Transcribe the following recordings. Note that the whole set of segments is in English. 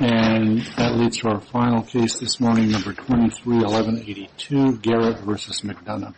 And that leads to our final case this morning, number 231182, Garrett v. McDonough.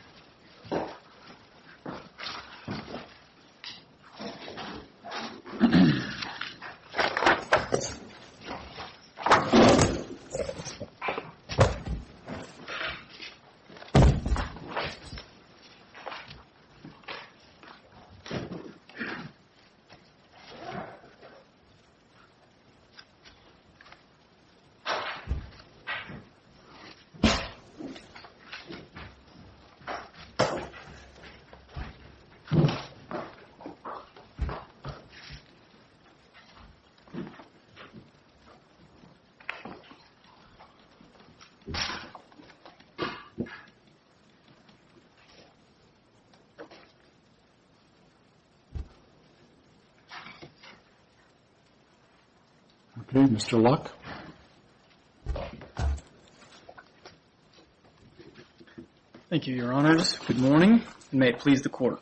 Adam Luck Thank you, Your Honors. Good morning, and may it please the Court.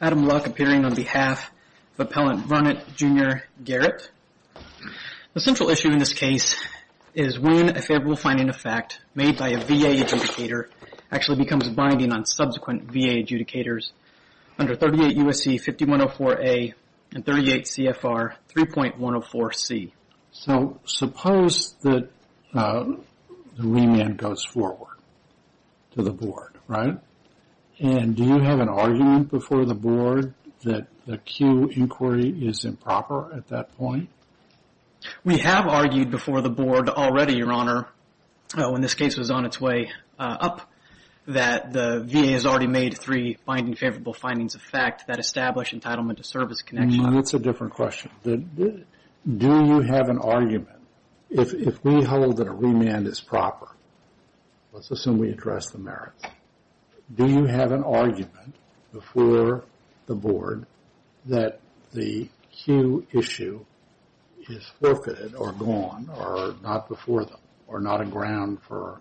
Adam Luck, appearing on behalf of Appellant Varnett, Jr., Garrett. The central issue in this case is when a favorable finding of fact made by a VA adjudicator actually becomes binding on subsequent VA adjudicators under 38 U.S.C. 5104A and 38 C.F.R. 3.104C. So suppose that the remand goes forward to the Board, right? And do you have an argument before the Board that the Q inquiry is improper at that point? Garrett Varnett, Jr. We have argued before the Board already, Your Honor, when this case was on its way up, that the VA has already made three binding favorable findings of fact that establish entitlement to service connection. Adam Luck That's a different question. Do you have an argument, if we hold that a remand is proper, let's assume we address the merits, do you have an argument before the Board that the Q issue is forfeited or gone or not before them or not a ground for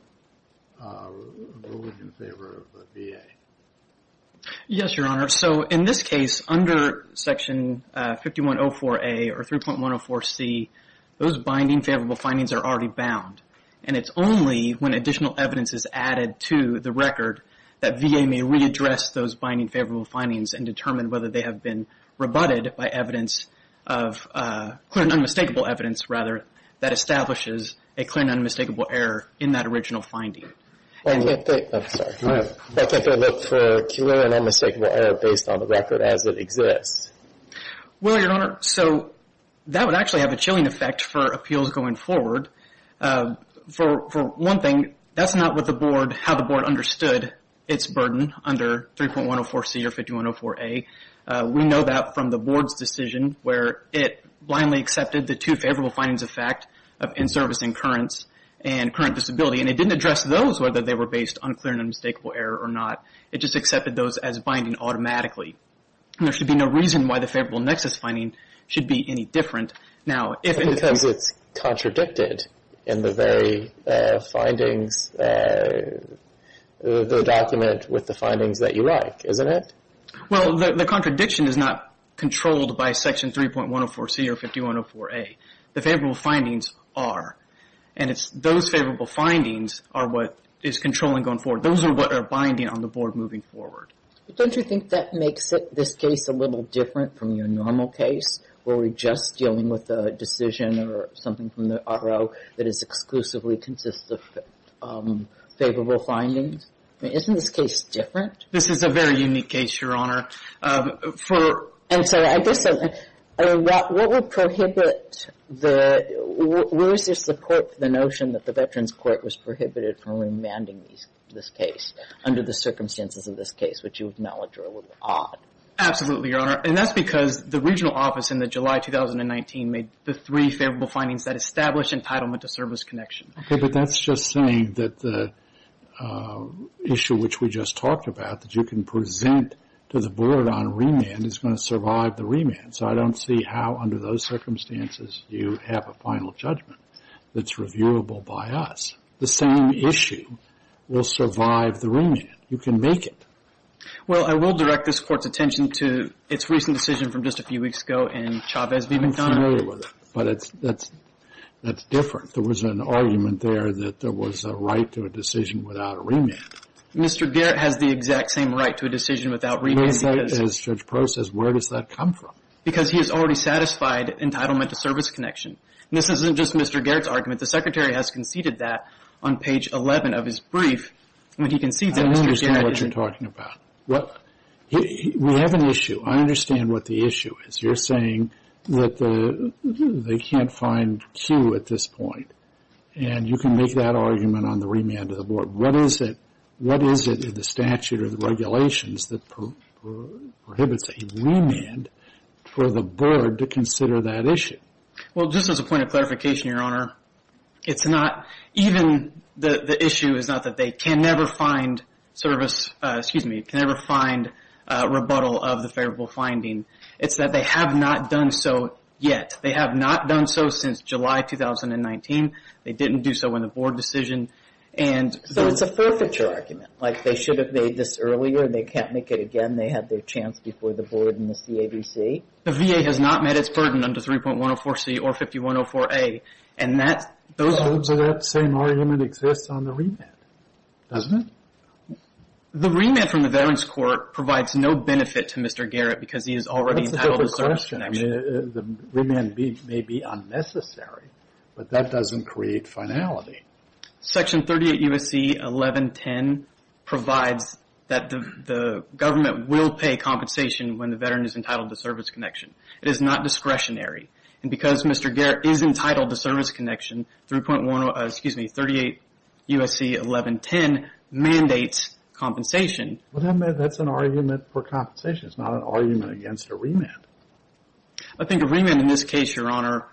ruling in favor of the VA? Garrett Varnett, Jr. Yes, Your Honor. So in this case, under Section 5104A or 3.104C, those binding favorable findings are already bound. And it's only when additional evidence is added to the record that VA may readdress those binding favorable findings and determine whether they have been rebutted by evidence of clear and unmistakable evidence rather that establishes a clear and unmistakable error in that original finding. Adam Luck I can't think of a clear and unmistakable error based on the record as it exists. Garrett Varnett, Jr. Well, Your Honor, so that would actually have a chilling effect for appeals going forward. For one thing, that's not how the Board understood its burden under 3.104C or 5104A. We know that from the Board's decision where it blindly accepted the two favorable findings of fact of in-service incurrence and current disability. And it didn't address those whether they were based on clear and unmistakable error or not. It just accepted those as binding automatically. And there should be no reason why the favorable nexus finding should be any different. Now, if in the case... Adam Luck, Jr. Because it's contradicted in the very findings, the document with the findings that you write, isn't it? Garrett Varnett, Jr. Well, the contradiction is not controlled by Section 3.104C or 5104A. The favorable findings are. And it's those favorable findings are what is controlling going forward. Those are what are binding on the Board moving forward. Jody Freeman, Chief Justice of the U.S. Supreme Court Don't you think that makes it, this case, a little different from your normal case where we're just dealing with a decision or something from the RO that is exclusively consists of favorable findings? Isn't this case different? Garrett Varnett, Jr. This is a very unique case, Your Honor. Jody Freeman, Chief Justice of the U.S. Supreme Court And so, I guess, what would prohibit the, where is your support for the notion that the Veterans Court was prohibited from remanding this case under the circumstances of this case, which you acknowledge are a little odd? Garrett Varnett, Jr. Absolutely, Your Honor. And that's because the regional office in the July 2019 made the three favorable findings that establish Robert J. Reilly, Chief Justice of the U.S. Supreme Court Okay, but that's just saying that the issue which we just talked about that you can present to the board on remand is going to survive the remand. So, I don't see how under those circumstances you have a final judgment that's reviewable by us. The same issue will survive the remand. You can make it. Jody Freeman, Chief Justice of the U.S. Supreme Court Well, I will direct this Court's attention to its recent decision from just a few weeks ago in Chavez v. McDonough. Garrett Varnett, Jr. I'm familiar with it, but that's different. There was an argument there that there was a right to a decision without a remand. Mr. Garrett has the exact same right to a decision without remand. Jody Freeman, Chief Justice of the U.S. Supreme Court As Judge Prost says, where does that come from? Garrett Varnett, Jr. Because he has already satisfied entitlement to service connection. And this isn't just Mr. Garrett's argument. The Secretary has conceded that on page 11 of his brief. Jody Freeman, Chief Justice of the U.S. Supreme Court I understand what you're talking about. We have an issue. I understand what the issue is. You're saying that they can't find Q at this point. And you can make that argument on the remand of the board. What is it in the statute or the regulations that prohibits a remand for the board to consider that issue? Garrett Varnett, Jr. Well, just as a point of clarification, Your Honor, it's not even the issue is not that they can never find service, excuse me, can never find rebuttal of the favorable finding. It's that they have not done so yet. They have not done so since July 2019. They didn't do so in the board decision. And Jody Freeman, Chief Justice of the U.S. Supreme Court So it's a forfeiture argument. Like they should have made this earlier. They can't make it again. They have their chance before the board and the CAVC. Garrett Varnett, Jr. The VA has not met its burden under 3.104C or 5104A. And that's those Jody Freeman, Chief Justice of the U.S. Supreme Court So that same argument exists on the remand. Doesn't it? Garrett Varnett, Jr. The remand from the Veterans Court provides no benefit to Mr. Garrett because he has already entitled to service connection. The remand may be unnecessary, but that doesn't create finality. Jody Freeman, Chief Justice of the U.S. Supreme Court Section 38 U.S.C. 1110 provides that the government will pay compensation when the veteran is entitled to service connection. It is not discretionary. And because Mr. Garrett is entitled to service connection, 3.10, excuse me, 38 U.S.C. 1110 mandates compensation. Garrett Varnett, Jr. That's an argument for compensation. It's not an argument against a remand. Jody Freeman, Chief Justice of the U.S. Supreme Court I think a remand in this case, Your Honor,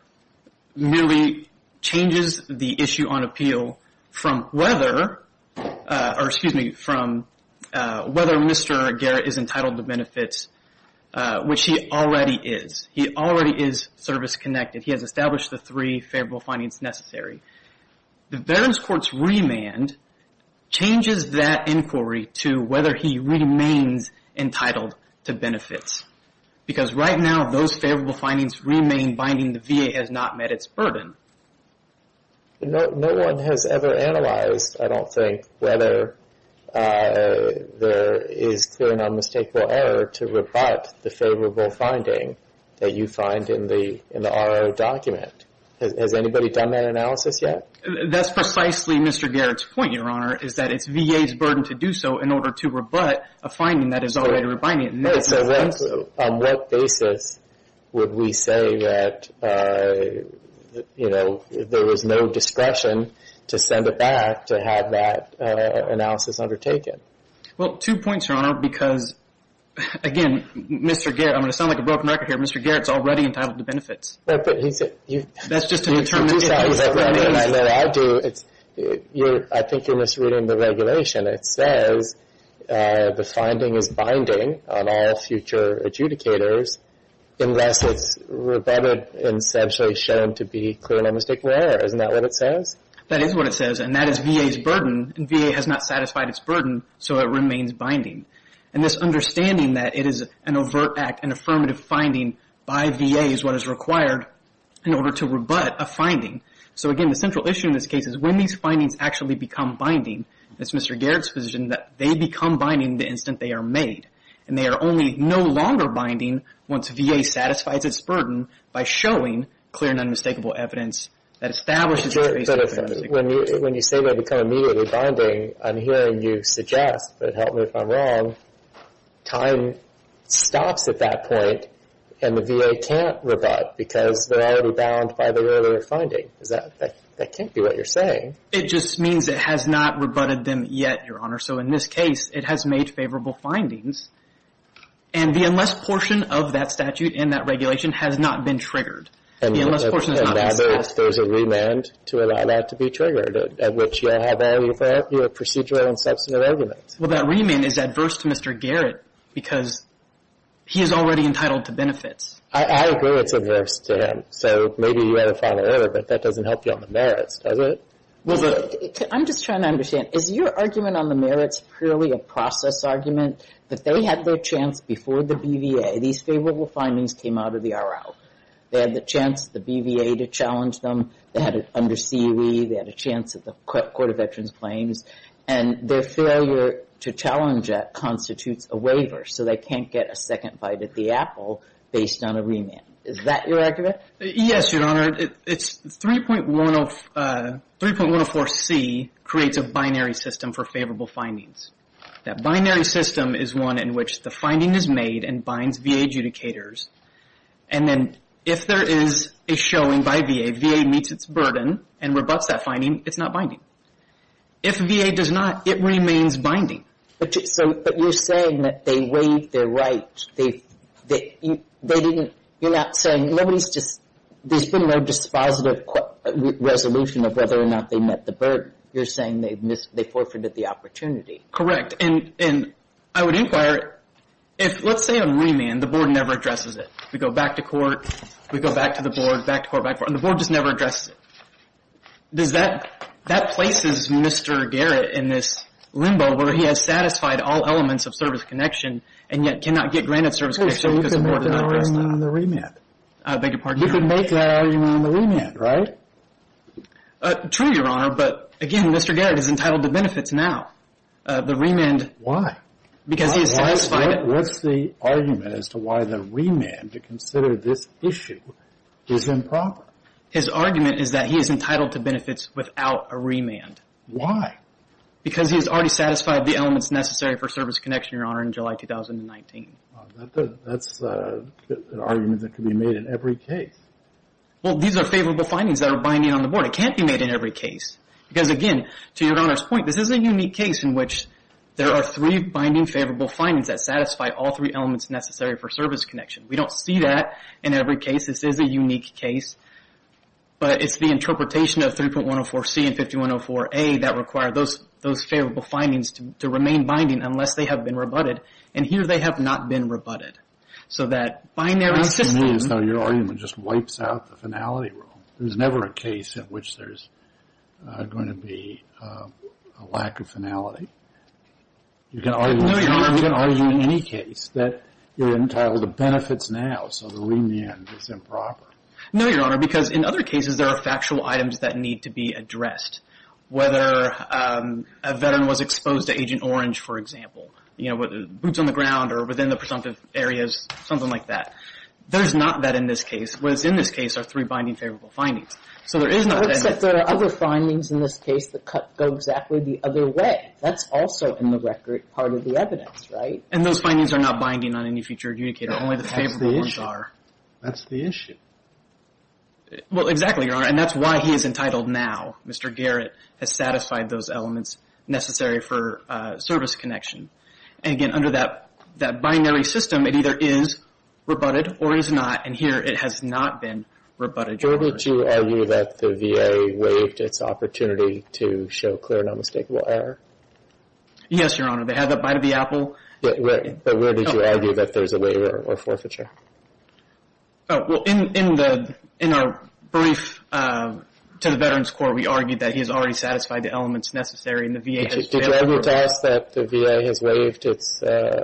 merely changes the issue on appeal from whether or, excuse me, from whether Mr. Garrett is entitled to benefits, which he already is. He already is service connected. He has established the three favorable findings necessary. The Veterans Court's remand changes that inquiry to whether he remains entitled to benefits. Because right now, those favorable findings remain binding. The VA has not met its burden. Garrett Varnett, Jr. No one has ever analyzed, I don't think, whether there is clear and unmistakable error to rebut the favorable finding that you find in the R.O. document. Has anybody done that analysis yet? Jody Freeman, Chief Justice of the U.S. Supreme Court That's precisely Mr. Garrett's point, Your Honor, is that it's VA's burden to do so in order to rebut a finding that is already binding. Garrett Varnett, Jr. On what basis would we say that, you know, there was no discretion to send it back to Jody Freeman, Chief Justice of the U.S. Supreme Court Well, two points, Your Honor, because, again, Mr. Garrett, I'm going to sound like a broken record here, but Mr. Garrett's already entitled to benefits. Jody Freeman, Chief Justice of the U.S. Supreme Court I think you're misreading the regulation. It says the finding is binding on all future adjudicators unless it's rebutted and essentially shown to be clear and unmistakable error. Isn't that what it says? Garrett Varnett, Jr. That is what it says, and that is VA's burden, and VA has not satisfied its burden, so it remains binding. And this understanding that it is an overt act, an affirmative finding by VA, is what is required in order to rebut a finding. So, again, the central issue in this case is when these findings actually become binding, it's Mr. Garrett's position that they become binding the instant they are made, and they are only no longer binding once VA satisfies its burden by showing clear and unmistakable evidence that establishes that there is a reason for that. Garrett Varnett, Jr. When you say they become immediately binding, I'm hearing you suggest, but help me if I'm wrong, time stops at that point, and the VA can't rebut because they're already bound by the earlier finding. That can't be what you're saying. Patrick Shephard, Ph.D. It just means it has not rebutted them yet, Your Honor. So, in this case, it has made favorable findings, and the unless portion of that statute and that regulation has not been triggered. Garrett Varnett, Jr. There's a remand to allow that to be triggered, at which you have a procedural and substantive argument. Well, that remand is adverse to Mr. Garrett because he is already entitled to benefits. Patrick Shephard, Ph.D. I agree it's adverse to him. So, maybe you had a father earlier, but that doesn't help you on the merits, does it? Garrett Varnett, Jr. I'm just trying to understand. Is your argument on the merits purely a process argument that they had their chance before the BVA? These favorable findings came out of the RL. They had the chance of the BVA to challenge them. They had it under CUE. They had a chance of the Court of Veterans Claims, and their failure to challenge it constitutes a waiver. So, they can't get a second bite at the apple based on a remand. Is that your argument? Patrick Shephard, Ph.D. Yes, Your Honor. It's 3.104C creates a binary system for favorable findings. That binary system is one in which the finding is made and binds VA adjudicators, and then if there is a showing by VA, VA meets its burden and rebuts that finding. It's not binding. If VA does not, it remains binding. But you're saying that they waived their right. There's been no dispositive resolution of whether or not they met the burden. You're saying they forfeited the opportunity. Patrick Shephard, Ph.D. Correct. And I would inquire, let's say a remand, the board never addresses it. We go back to court, we go back to the board, back to court, back to court, the board just never addresses it. Does that, that places Mr. Garrett in this limbo where he has satisfied all elements of service connection, and yet cannot get granted service connection because the board did not address that. Patrick Shephard, Ph.D. You could make that argument on the remand, right? Patrick Shephard, Ph.D. True, Your Honor, but again, Mr. Garrett is entitled to benefits now. The remand. Patrick Shephard, Ph.D. Because he has satisfied it. Patrick Shephard, Ph.D. What's the argument as to why the remand to consider this issue is improper? Patrick Shephard, Ph.D. His argument is that he is entitled to benefits without a remand. Patrick Shephard, Ph.D. Why? Patrick Shephard, Ph.D. Because he has already satisfied the elements necessary for service connection, Your Honor, in July 2019. Patrick Shephard, Ph.D. That's an argument that could be made in every case. Patrick Shephard, Ph.D. Well, these are favorable findings that are binding on the board. It can't be made in every case. Because again, to Your Honor's point, this is a unique case in which there are three binding favorable findings that satisfy all three elements necessary for service connection. We don't see that in every case. This is a unique case. Patrick Shephard, Ph.D. But it's the interpretation of 3.104C and 5104A that require those favorable findings to remain binding unless they have been rebutted. And here, they have not been rebutted. Patrick Shephard, Ph.D. So that binary system... Judge Goldberg, Ph.D. Your argument just wipes out the finality rule. There's never a case in which there's going to be a lack of finality. You can argue... Judge Goldberg, Ph.D. You can argue in any case that you're entitled to benefits now, so the remand is improper. Patrick Shephard, Ph.D. No, Your Honor. Because in other cases, there are factual items that need to be addressed. Whether a veteran was exposed to Agent Orange, for example. You know, boots on the ground or within the presumptive areas. Something like that. There's not that in this case. What is in this case are three binding favorable findings. So there is not... Judge Goldberg, Ph.D. There are other findings in this case that go exactly the other way. That's also in the record part of the evidence, right? Patrick Shephard, Ph.D. And those findings are not binding on any future adjudicator. Only the favorable ones are. Judge Goldberg, Ph.D. That's the issue. Patrick Shephard, Ph.D. Well, exactly, Your Honor. And that's why he is entitled now. Mr. Garrett has satisfied those elements necessary for service connection. And again, under that binary system, it either is rebutted or is not. And here, it has not been rebutted. Judge, did you argue that the VA waived its opportunity to show clear and unmistakable error? Patrick Shephard, Ph.D. Yes, Your Honor. They had that bite of the apple. Judge Goldberg, Ph.D. But where did you argue that there's a waiver or forfeiture? Patrick Shephard, Ph.D. Oh, well, in our brief to the Veterans Court, we argued that he has already satisfied the elements necessary and the VA has failed... Judge Goldberg, Ph.D. Did you argue to us that the VA has waived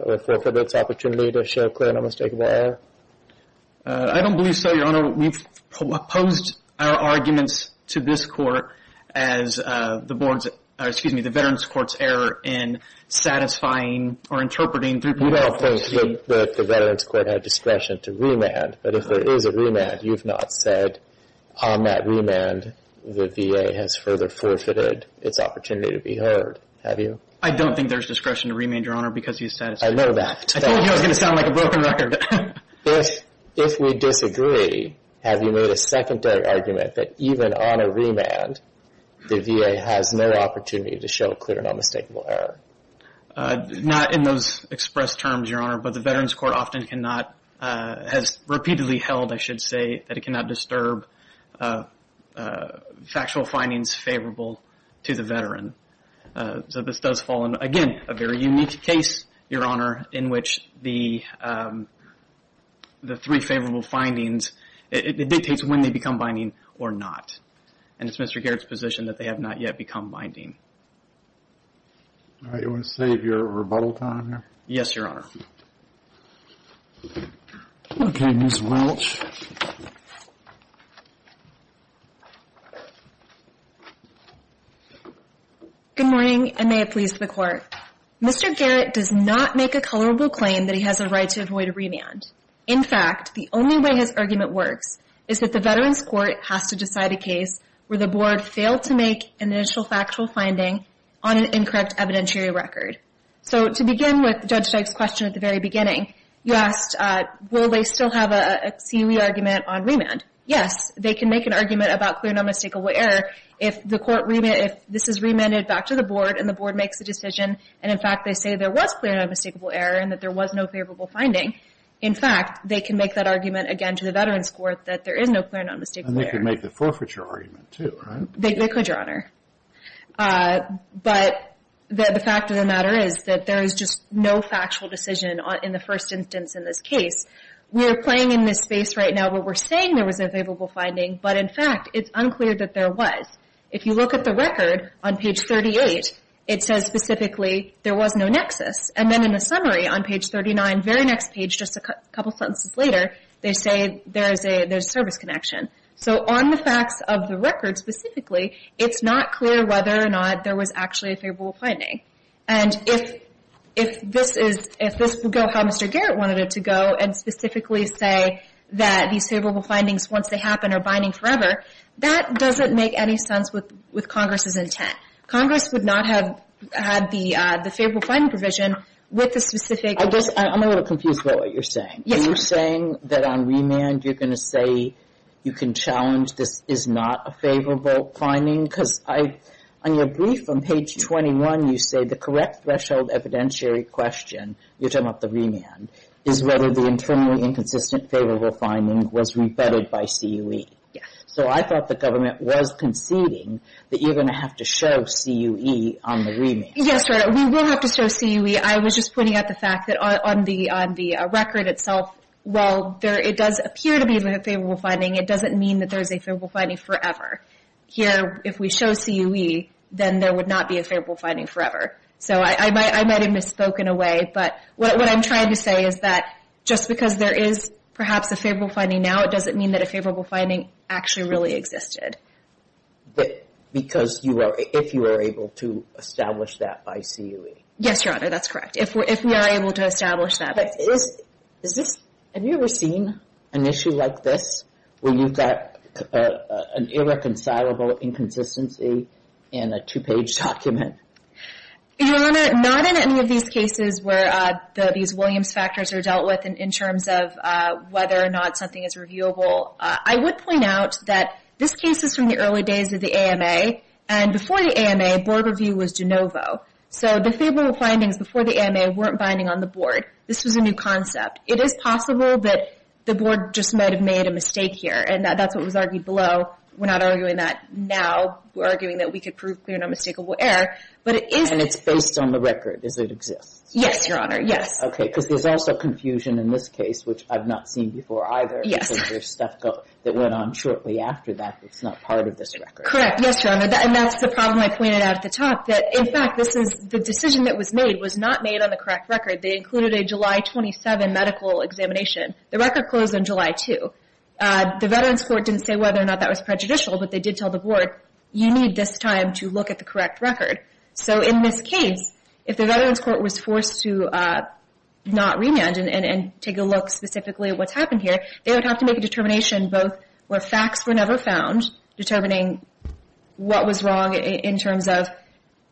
or forfeited its opportunity to show clear and unmistakable error? Patrick Shephard, Ph.D. I don't believe so, Your Honor. We've posed our arguments to this Court as the Veterans Court's error in satisfying or interpreting... Judge Goldberg, Ph.D. We all think that the Veterans Court had discretion to remand. But if there is a remand, you've not said on that remand the VA has further forfeited its opportunity to be heard, have you? Patrick Shephard, Ph.D. I don't think there's discretion to remand, Your Honor, because he's satisfied. Judge Goldberg, Ph.D. I know that. Patrick Shephard, Ph.D. I told you I was going to sound like a broken record. Judge Goldberg, Ph.D. If we disagree, have you made a secondary argument that even on a remand, the VA has no opportunity to show clear and unmistakable error? Patrick Shephard, Ph.D. Not in those expressed terms, Your Honor. But the Veterans Court often cannot, has repeatedly held, I should say, that it cannot disturb factual findings favorable to the veteran. So this does fall in, again, a very unique case, Your Honor, in which the three favorable findings, it dictates when they become binding or not. And it's Mr. Garrett's position that they have not yet become binding. Judge Goldberg, Ph.D. All right, you want to save your rebuttal time here? Patrick Shephard, Ph.D. Yes, Your Honor. Judge Goldberg, Ph.D. Okay, Ms. Welch. Ms. Welch, V.C. Good morning, and may it please the Court. Mr. Garrett does not make a colorable claim that he has a right to avoid a remand. In fact, the only way his argument works is that the Veterans Court has to decide a case where the Board failed to make an initial factual finding on an incorrect evidentiary record. So to begin with Judge Stipe's question at the very beginning, you asked, will they still have a CUE argument on remand? Yes, they can make an argument about clear and unmistakable error if the Court, if this is remanded back to the Board and the Board makes a decision, and in fact they say there was clear and unmistakable error and that there was no favorable finding. In fact, they can make that argument again to the Veterans Court that there is no clear and unmistakable error. And they can make the forfeiture argument too, right? They could, Your Honor. But the fact of the matter is that there is just no factual decision in the first instance in this case. We're playing in this space right now where we're saying there was a favorable finding, but in fact it's unclear that there was. If you look at the record on page 38, it says specifically there was no nexus. And then in the summary on page 39, very next page, just a couple sentences later, they say there's a service connection. So on the facts of the record specifically, it's not clear whether or not there was actually a favorable finding. And if this will go how Mr. Garrett wanted it to go and specifically say that these favorable findings, once they happen, are binding forever, that doesn't make any sense with Congress' intent. Congress would not have had the favorable finding provision with the specific... I guess I'm a little confused about what you're saying. Yes. Are you saying that on remand you're going to say you can challenge this is not a favorable finding? Because on your brief on page 21, you say the correct threshold evidentiary question, you're talking about the remand, is whether the internally inconsistent favorable finding was re-vetted by CUE. Yes. So I thought the government was conceding that you're going to have to show CUE on the remand. Yes, we will have to show CUE. I was just pointing out the fact that on the record itself, while it does appear to be a favorable finding, it doesn't mean that there's a favorable finding forever. Here, if we show CUE, then there would not be a favorable finding forever. So I might have misspoken away. But what I'm trying to say is that just because there is perhaps a favorable finding now, doesn't mean that a favorable finding actually really existed. Because if you were able to establish that by CUE. Yes, Your Honor, that's correct. If we are able to establish that. Have you ever seen an issue like this where you've got an irreconcilable inconsistency in a two-page document? Your Honor, not in any of these cases where these Williams factors are dealt with in terms of whether or not something is reviewable. I would point out that this case is from the early days of the AMA. And before the AMA, board review was de novo. So the favorable findings before the AMA weren't binding on the board. This was a new concept. It is possible that the board just might have made a mistake here. And that's what was argued below. We're not arguing that now. We're arguing that we could prove clear and unmistakable error. But it is. And it's based on the record. Does it exist? Yes, Your Honor. Yes. Because there's also confusion in this case, which I've not seen before either. Yes. Because there's stuff that went on shortly after that that's not part of this record. Correct. Yes, Your Honor. And that's the problem I pointed out at the top. In fact, the decision that was made was not made on the correct record. They included a July 27 medical examination. The record closed on July 2. The Veterans Court didn't say whether or not that was prejudicial. But they did tell the board, you need this time to look at the correct record. So in this case, if the Veterans Court was forced to not remand and take a look specifically at what's happened here, they would have to make a determination both where facts were never found, determining what was wrong in terms of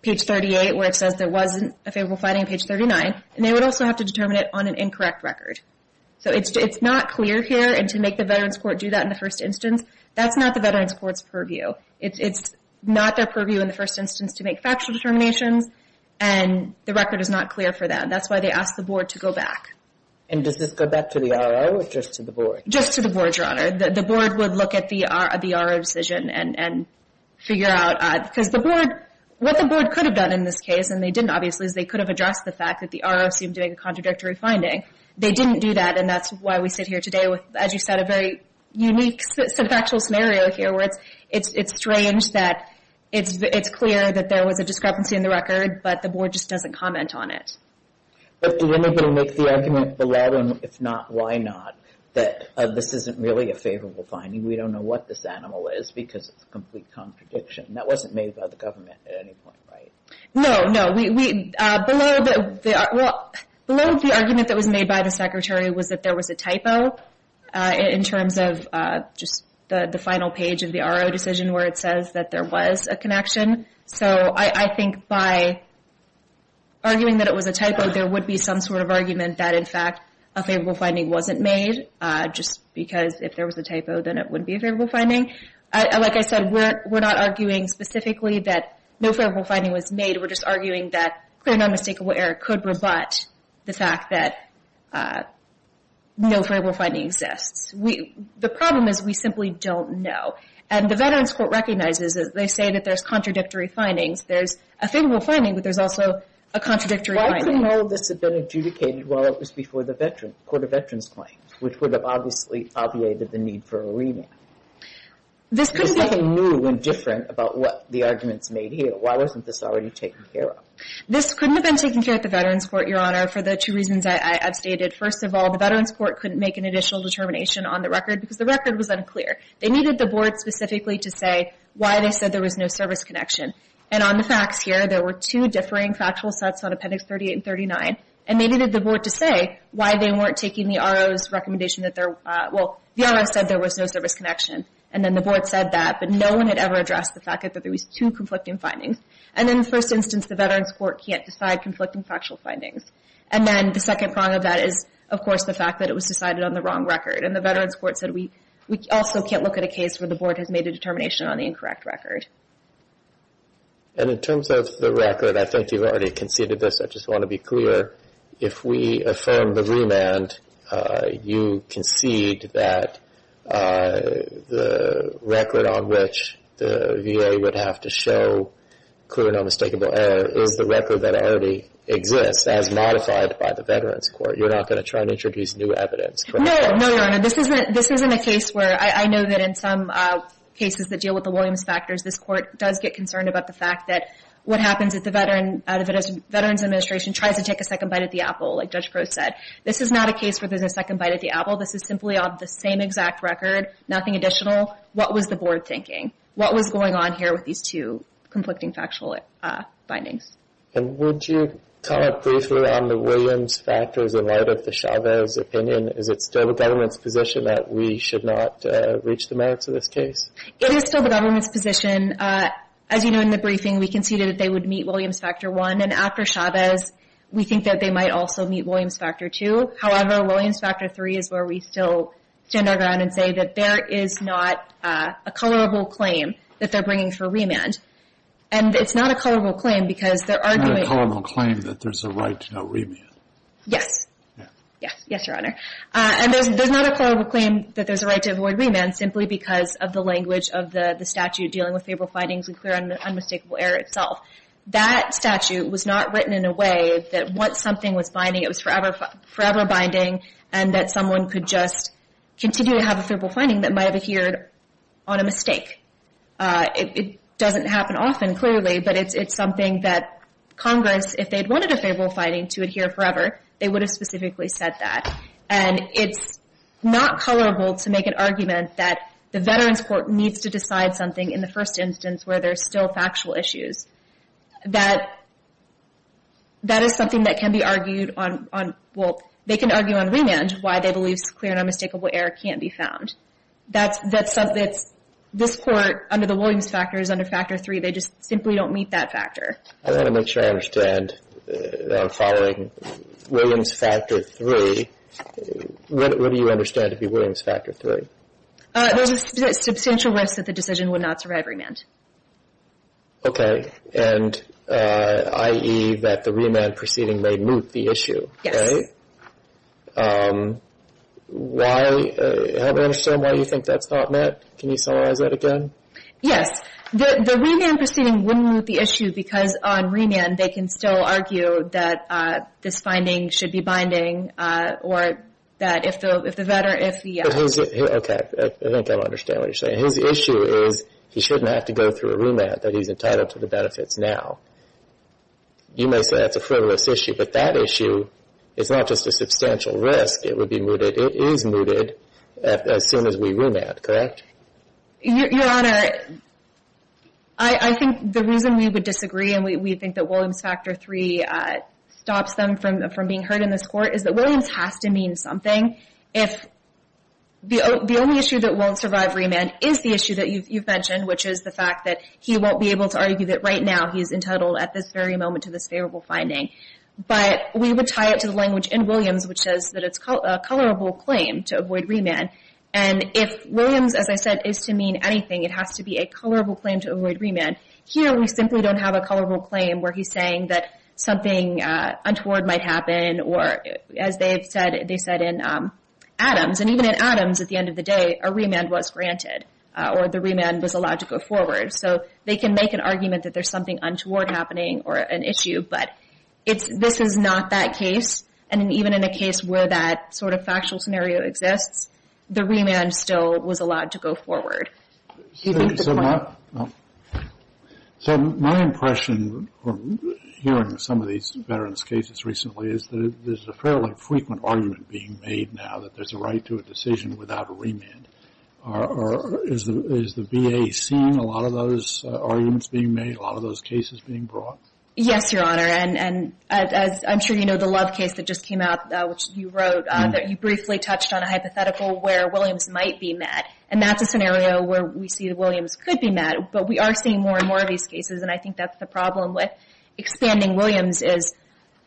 page 38, where it says there wasn't a favorable finding on page 39. And they would also have to determine it on an incorrect record. So it's not clear here. And to make the Veterans Court do that in the first instance, that's not the Veterans Court's purview. It's not their purview in the first instance to make factual determinations. And the record is not clear for that. That's why they asked the board to go back. And does this go back to the R.O. or just to the board? Just to the board, Your Honor. The board would look at the R.O. decision and figure out, because what the board could have done in this case, and they didn't, obviously, is they could have addressed the fact that the R.O. seemed to make a contradictory finding. They didn't do that. And that's why we sit here today with, as you said, a very unique set of actual scenario here, where it's strange that it's clear that there was a discrepancy in the record, but the board just doesn't comment on it. But do anybody make the argument below, and if not, why not, that this isn't really a favorable finding? We don't know what this animal is because it's a complete contradiction. That wasn't made by the government at any point, right? No, no. Below the argument that was made by the Secretary was that there was a typo. In terms of just the final page of the R.O. decision, where it says that there was a connection. So I think by arguing that it was a typo, there would be some sort of argument that, in fact, a favorable finding wasn't made, just because if there was a typo, then it wouldn't be a favorable finding. Like I said, we're not arguing specifically that no favorable finding was made. We're just arguing that clear non-mistakable error could rebut the fact that no favorable finding exists. The problem is we simply don't know. And the Veterans Court recognizes that they say that there's contradictory findings. There's a favorable finding, but there's also a contradictory finding. Why couldn't all of this have been adjudicated while it was before the Veterans, Court of Veterans Claims, which would have obviously obviated the need for a remand? There's nothing new and different about what the arguments made here. Why wasn't this already taken care of? This couldn't have been taken care of at the Veterans Court, Your Honor, for the two reasons I've stated. First of all, the Veterans Court couldn't make an additional determination on the record because the record was unclear. They needed the board specifically to say why they said there was no service connection. And on the facts here, there were two differing factual sets on Appendix 38 and 39. And they needed the board to say why they weren't taking the RO's recommendation that there, well, the RO said there was no service connection. And then the board said that. But no one had ever addressed the fact that there was two conflicting findings. And in the first instance, the Veterans Court can't decide conflicting factual findings. And then the second prong of that is, of course, the fact that it was decided on the wrong record. And the Veterans Court said we also can't look at a case where the board has made a determination on the incorrect record. And in terms of the record, I think you've already conceded this. I just want to be clear. If we affirm the remand, you concede that the record on which the VA would have to show clear and unmistakable error is the record that already exists as modified by the Veterans Court. You're not going to try and introduce new evidence, correct? No, no, no, no. This isn't a case where I know that in some cases that deal with the Williams factors, this court does get concerned about the fact that what happens if the Veterans Administration tries to take a second bite at the apple, like Judge Crowe said. This is not a case where there's a second bite at the apple. This is simply on the same exact record, nothing additional. What was the board thinking? What was going on here with these two conflicting factual findings? And would you comment briefly on the Williams factors in light of the Chavez opinion? Is it still the government's position that we should not reach the merits of this case? It is still the government's position. As you know, in the briefing, we conceded that they would meet Williams Factor 1. And after Chavez, we think that they might also meet Williams Factor 2. However, Williams Factor 3 is where we still stand our ground and say that there is not a colorable claim that they're bringing for remand. And it's not a colorable claim because they're arguing... It's not a colorable claim that there's a right to remand. Yes. Yes. Yes, Your Honor. And there's not a colorable claim that there's a right to avoid remand simply because of the language of the statute dealing with favorable findings and clear and unmistakable error itself. That statute was not written in a way that once something was binding, it was forever binding, and that someone could just continue to have a favorable finding that might have adhered on a mistake. It doesn't happen often, clearly, but it's something that Congress, if they'd wanted a favorable finding to adhere forever, they would have specifically said that. And it's not colorable to make an argument that the Veterans Court needs to decide something in the first instance where there's still factual issues. That is something that can be argued on... Well, they can argue on remand why they believe clear and unmistakable error can't be found. That's something that's... This Court, under the Williams Factor, is under Factor 3. They just simply don't meet that factor. I want to make sure I understand that I'm following Williams Factor 3. What do you understand to be Williams Factor 3? There's a substantial risk that the decision would not survive remand. Okay, and i.e. that the remand proceeding may moot the issue. Yes. Can you help me understand why you think that's not met? Can you summarize that again? Yes, the remand proceeding wouldn't moot the issue because on remand they can still argue that this finding should be binding or that if the veteran... Okay, I think I understand what you're saying. His issue is he shouldn't have to go through a remand that he's entitled to the benefits now. You may say that's a frivolous issue, but that issue is not just a substantial risk. It would be mooted. It is mooted as soon as we remand, correct? Your Honor, I think the reason we would disagree and we think that Williams Factor 3 stops them from being heard in this Court is that Williams has to mean something if the only issue that won't survive remand is the issue that you've mentioned, which is the fact that he won't be able to argue that right now he's entitled at this very moment to this favorable finding. But we would tie it to the language in Williams which says that it's a colorable claim to avoid remand. And if Williams, as I said, is to mean anything, it has to be a colorable claim to avoid remand. Here we simply don't have a colorable claim where he's saying that something untoward might happen or as they said in Adams, and even in Adams at the end of the day, a remand was granted or the remand was allowed to go forward. So they can make an argument that there's something untoward happening or an issue, but this is not that case. And even in a case where that sort of factual scenario exists, the remand still was allowed to go forward. So my impression hearing some of these veterans' cases recently is that there's a fairly frequent argument being made now that there's a right to a decision without a remand. Or is the VA seeing a lot of those arguments being made, a lot of those cases being brought? Yes, Your Honor. And as I'm sure you know, the Love case that just came out, which you wrote, that you briefly touched on a hypothetical where Williams might be met. And that's a scenario where we see that Williams could be met, but we are seeing more and more of these cases. And I think that's the problem with expanding Williams is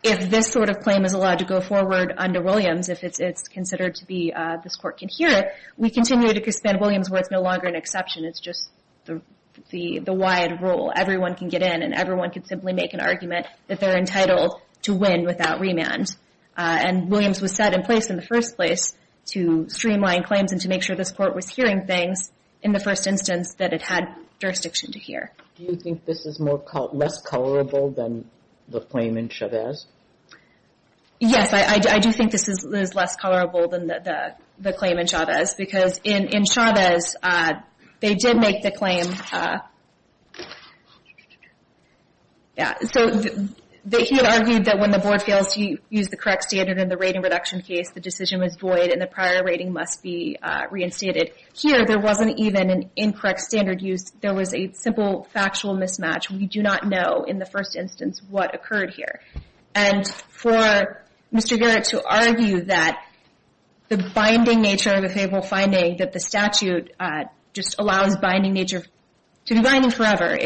if this sort of claim is allowed to go forward under Williams, if it's considered to be this court can hear it, we continue to expand Williams where it's no longer an exception. It's just the wide rule. Everyone can get in and everyone can simply make an argument that they're entitled to win without remand. And Williams was set in place in the first place to streamline claims and to make sure this court was hearing things in the first instance that it had jurisdiction to hear. Do you think this is less colorable than the claim in Chavez? Yes, I do think this is less colorable than the claim in Chavez because in Chavez, they did make the claim so that he had argued that when the board fails to use the correct standard in the rating reduction case, the decision was void and the prior rating must be reinstated. Here, there wasn't even an incorrect standard used. There was a simple factual mismatch. We do not know in the first instance what occurred here. And for Mr. Garrett to argue that the binding nature of a favorable finding that the statute just allows binding nature to be binding forever,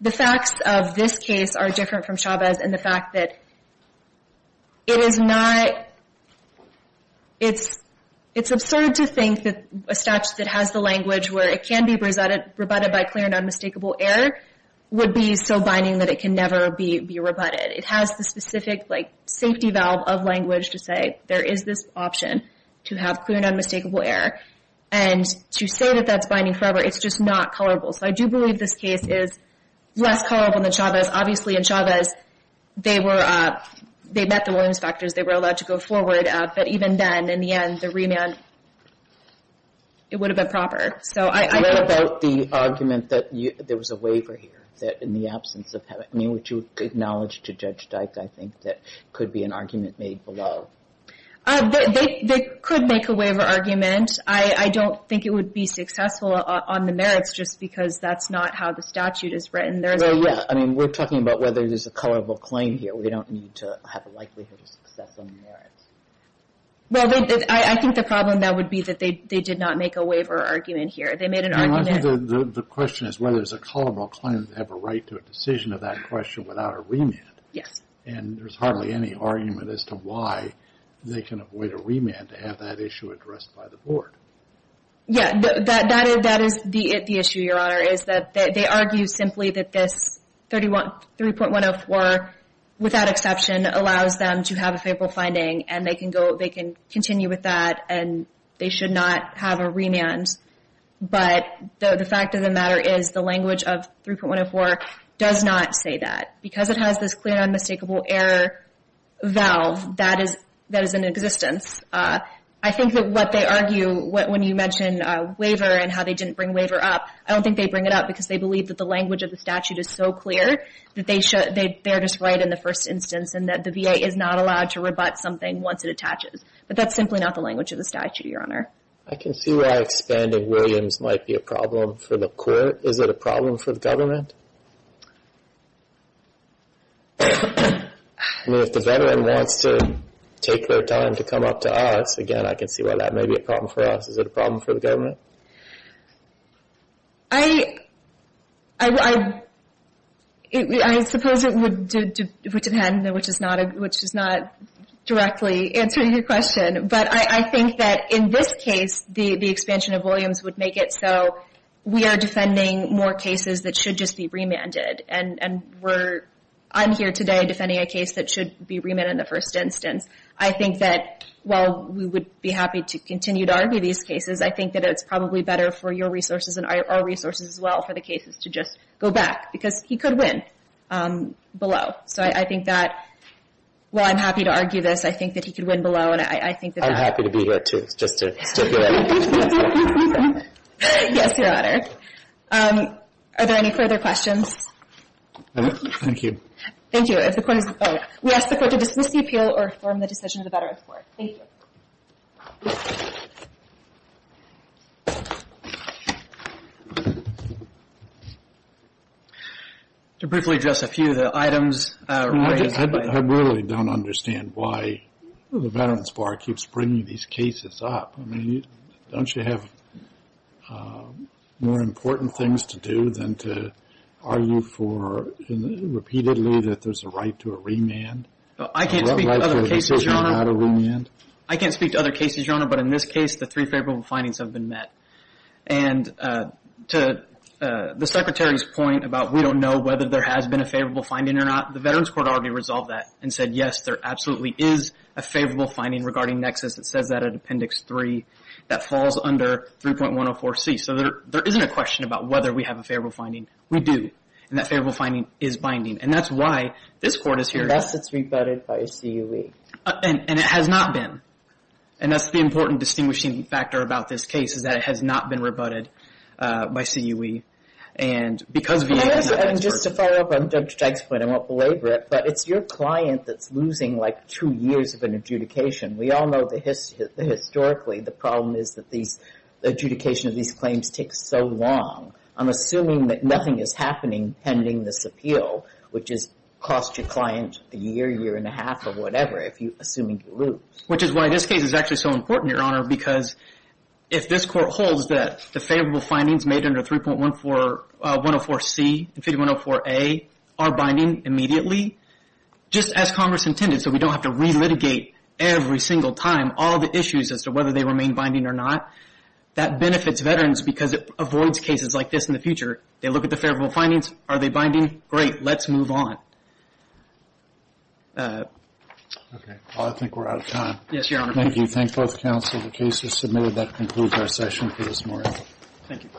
the facts of this case are different from Chavez in the fact that it is not... It's absurd to think that a statute that has the language where it can be rebutted by clear and unmistakable error would be so binding that it can never be rebutted. It has the specific safety valve of language to say there is this option to have clear and unmistakable error. And to say that that's binding forever, it's just not colorable. So I do believe this case is less colorable than Chavez. Obviously in Chavez, they met the Williams factors. They were allowed to go forward. But even then, in the end, the remand, it would have been proper. So I think that... What about the argument that there was a waiver here that in the absence of having... I mean, would you acknowledge to Judge Dyke, I think, that could be an argument made below? They could make a waiver argument. I don't think it would be successful on the merits just because that's not how the statute is written. There's a... Well, yeah. I mean, we're talking about whether there's a colorable claim here. We don't need to have a likelihood of success on the merits. Well, I think the problem that would be that they did not make a waiver argument here. They made an argument... And I think the question is whether there's a colorable claim to have a right to a decision of that question without a remand. Yes. And there's hardly any argument as to why they can avoid a remand to have that issue addressed by the board. Yeah, that is the issue, Your Honor, is that they argue simply that this 3.104, without exception, allows them to have a favorable finding and they can continue with that and they should not have a remand. But the fact of the matter is the language of 3.104 does not say that. Because it has this clear and unmistakable error valve, that is in existence. I think that what they argue, when you mentioned waiver and how they didn't bring waiver up, I don't think they bring it up because they believe that the language of the statute is so clear that they're just right in the first instance and that the VA is not allowed to rebut something once it attaches. But that's simply not the language of the statute, Your Honor. I can see why expanding Williams might be a problem for the court. Is it a problem for the government? I mean, if the veteran wants to take their time to come up to us, again, I can see why that may be a problem for us. Is it a problem for the government? I suppose it would depend, which is not directly answering your question. But I think that in this case, the expansion of Williams would make it so we are defending more cases that should just be remanded. And I'm here today defending a case that should be remanded in the first instance. I think that while we would be happy to continue to argue these cases, I think that it's probably better for your resources and our resources as well for the cases to just go back because he could win below. So I think that while I'm happy to argue this, I think that he could win below. And I think that... I'm happy to be here too, just to stipulate. Yes, Your Honor. Are there any further questions? Thank you. Thank you. If the court is... We ask the court to dismiss the appeal or affirm the decision of the Veterans Bar. Thank you. To briefly address a few of the items... I really don't understand why the Veterans Bar keeps bringing these cases up. I mean, don't you have more important things to do than to argue for repeatedly that there's a right to a remand? I can't speak to other cases, Your Honor. I can't speak to other cases, Your Honor. But in this case, the three favorable findings have been met. And to the Secretary's point about we don't know whether there has been a favorable finding or not, the Veterans Court already resolved that and said, yes, there absolutely is a favorable finding regarding nexus. It says that at Appendix 3. That falls under 3.104C. So there isn't a question about whether we have a favorable finding. We do. And that favorable finding is binding. And that's why this court is here. Unless it's rebutted by CUE. And it has not been. And that's the important distinguishing factor about this case, is that it has not been rebutted by CUE. And because of the... And just to follow up on Dr. Dykes' point, I won't belabor it, but it's your client that's losing like two years of an adjudication. We all know that historically, the problem is that these adjudication of these claims takes so long. I'm assuming that nothing is happening pending this appeal, which costs your client a year, year and a half or whatever, if you're assuming you lose. Which is why this case is actually so important, Your Honor, because if this court holds that the favorable findings made under 3.104C and 3.104A are binding immediately, just as Congress intended so we don't have to relitigate every single time all the issues as to whether they remain binding or not, that benefits veterans because it avoids cases like this in the future. They look at the favorable findings. Are they binding? Great, let's move on. Okay, I think we're out of time. Yes, Your Honor. Thank you. Thank both counsel. The case is submitted. That concludes our session for this morning. Thank you.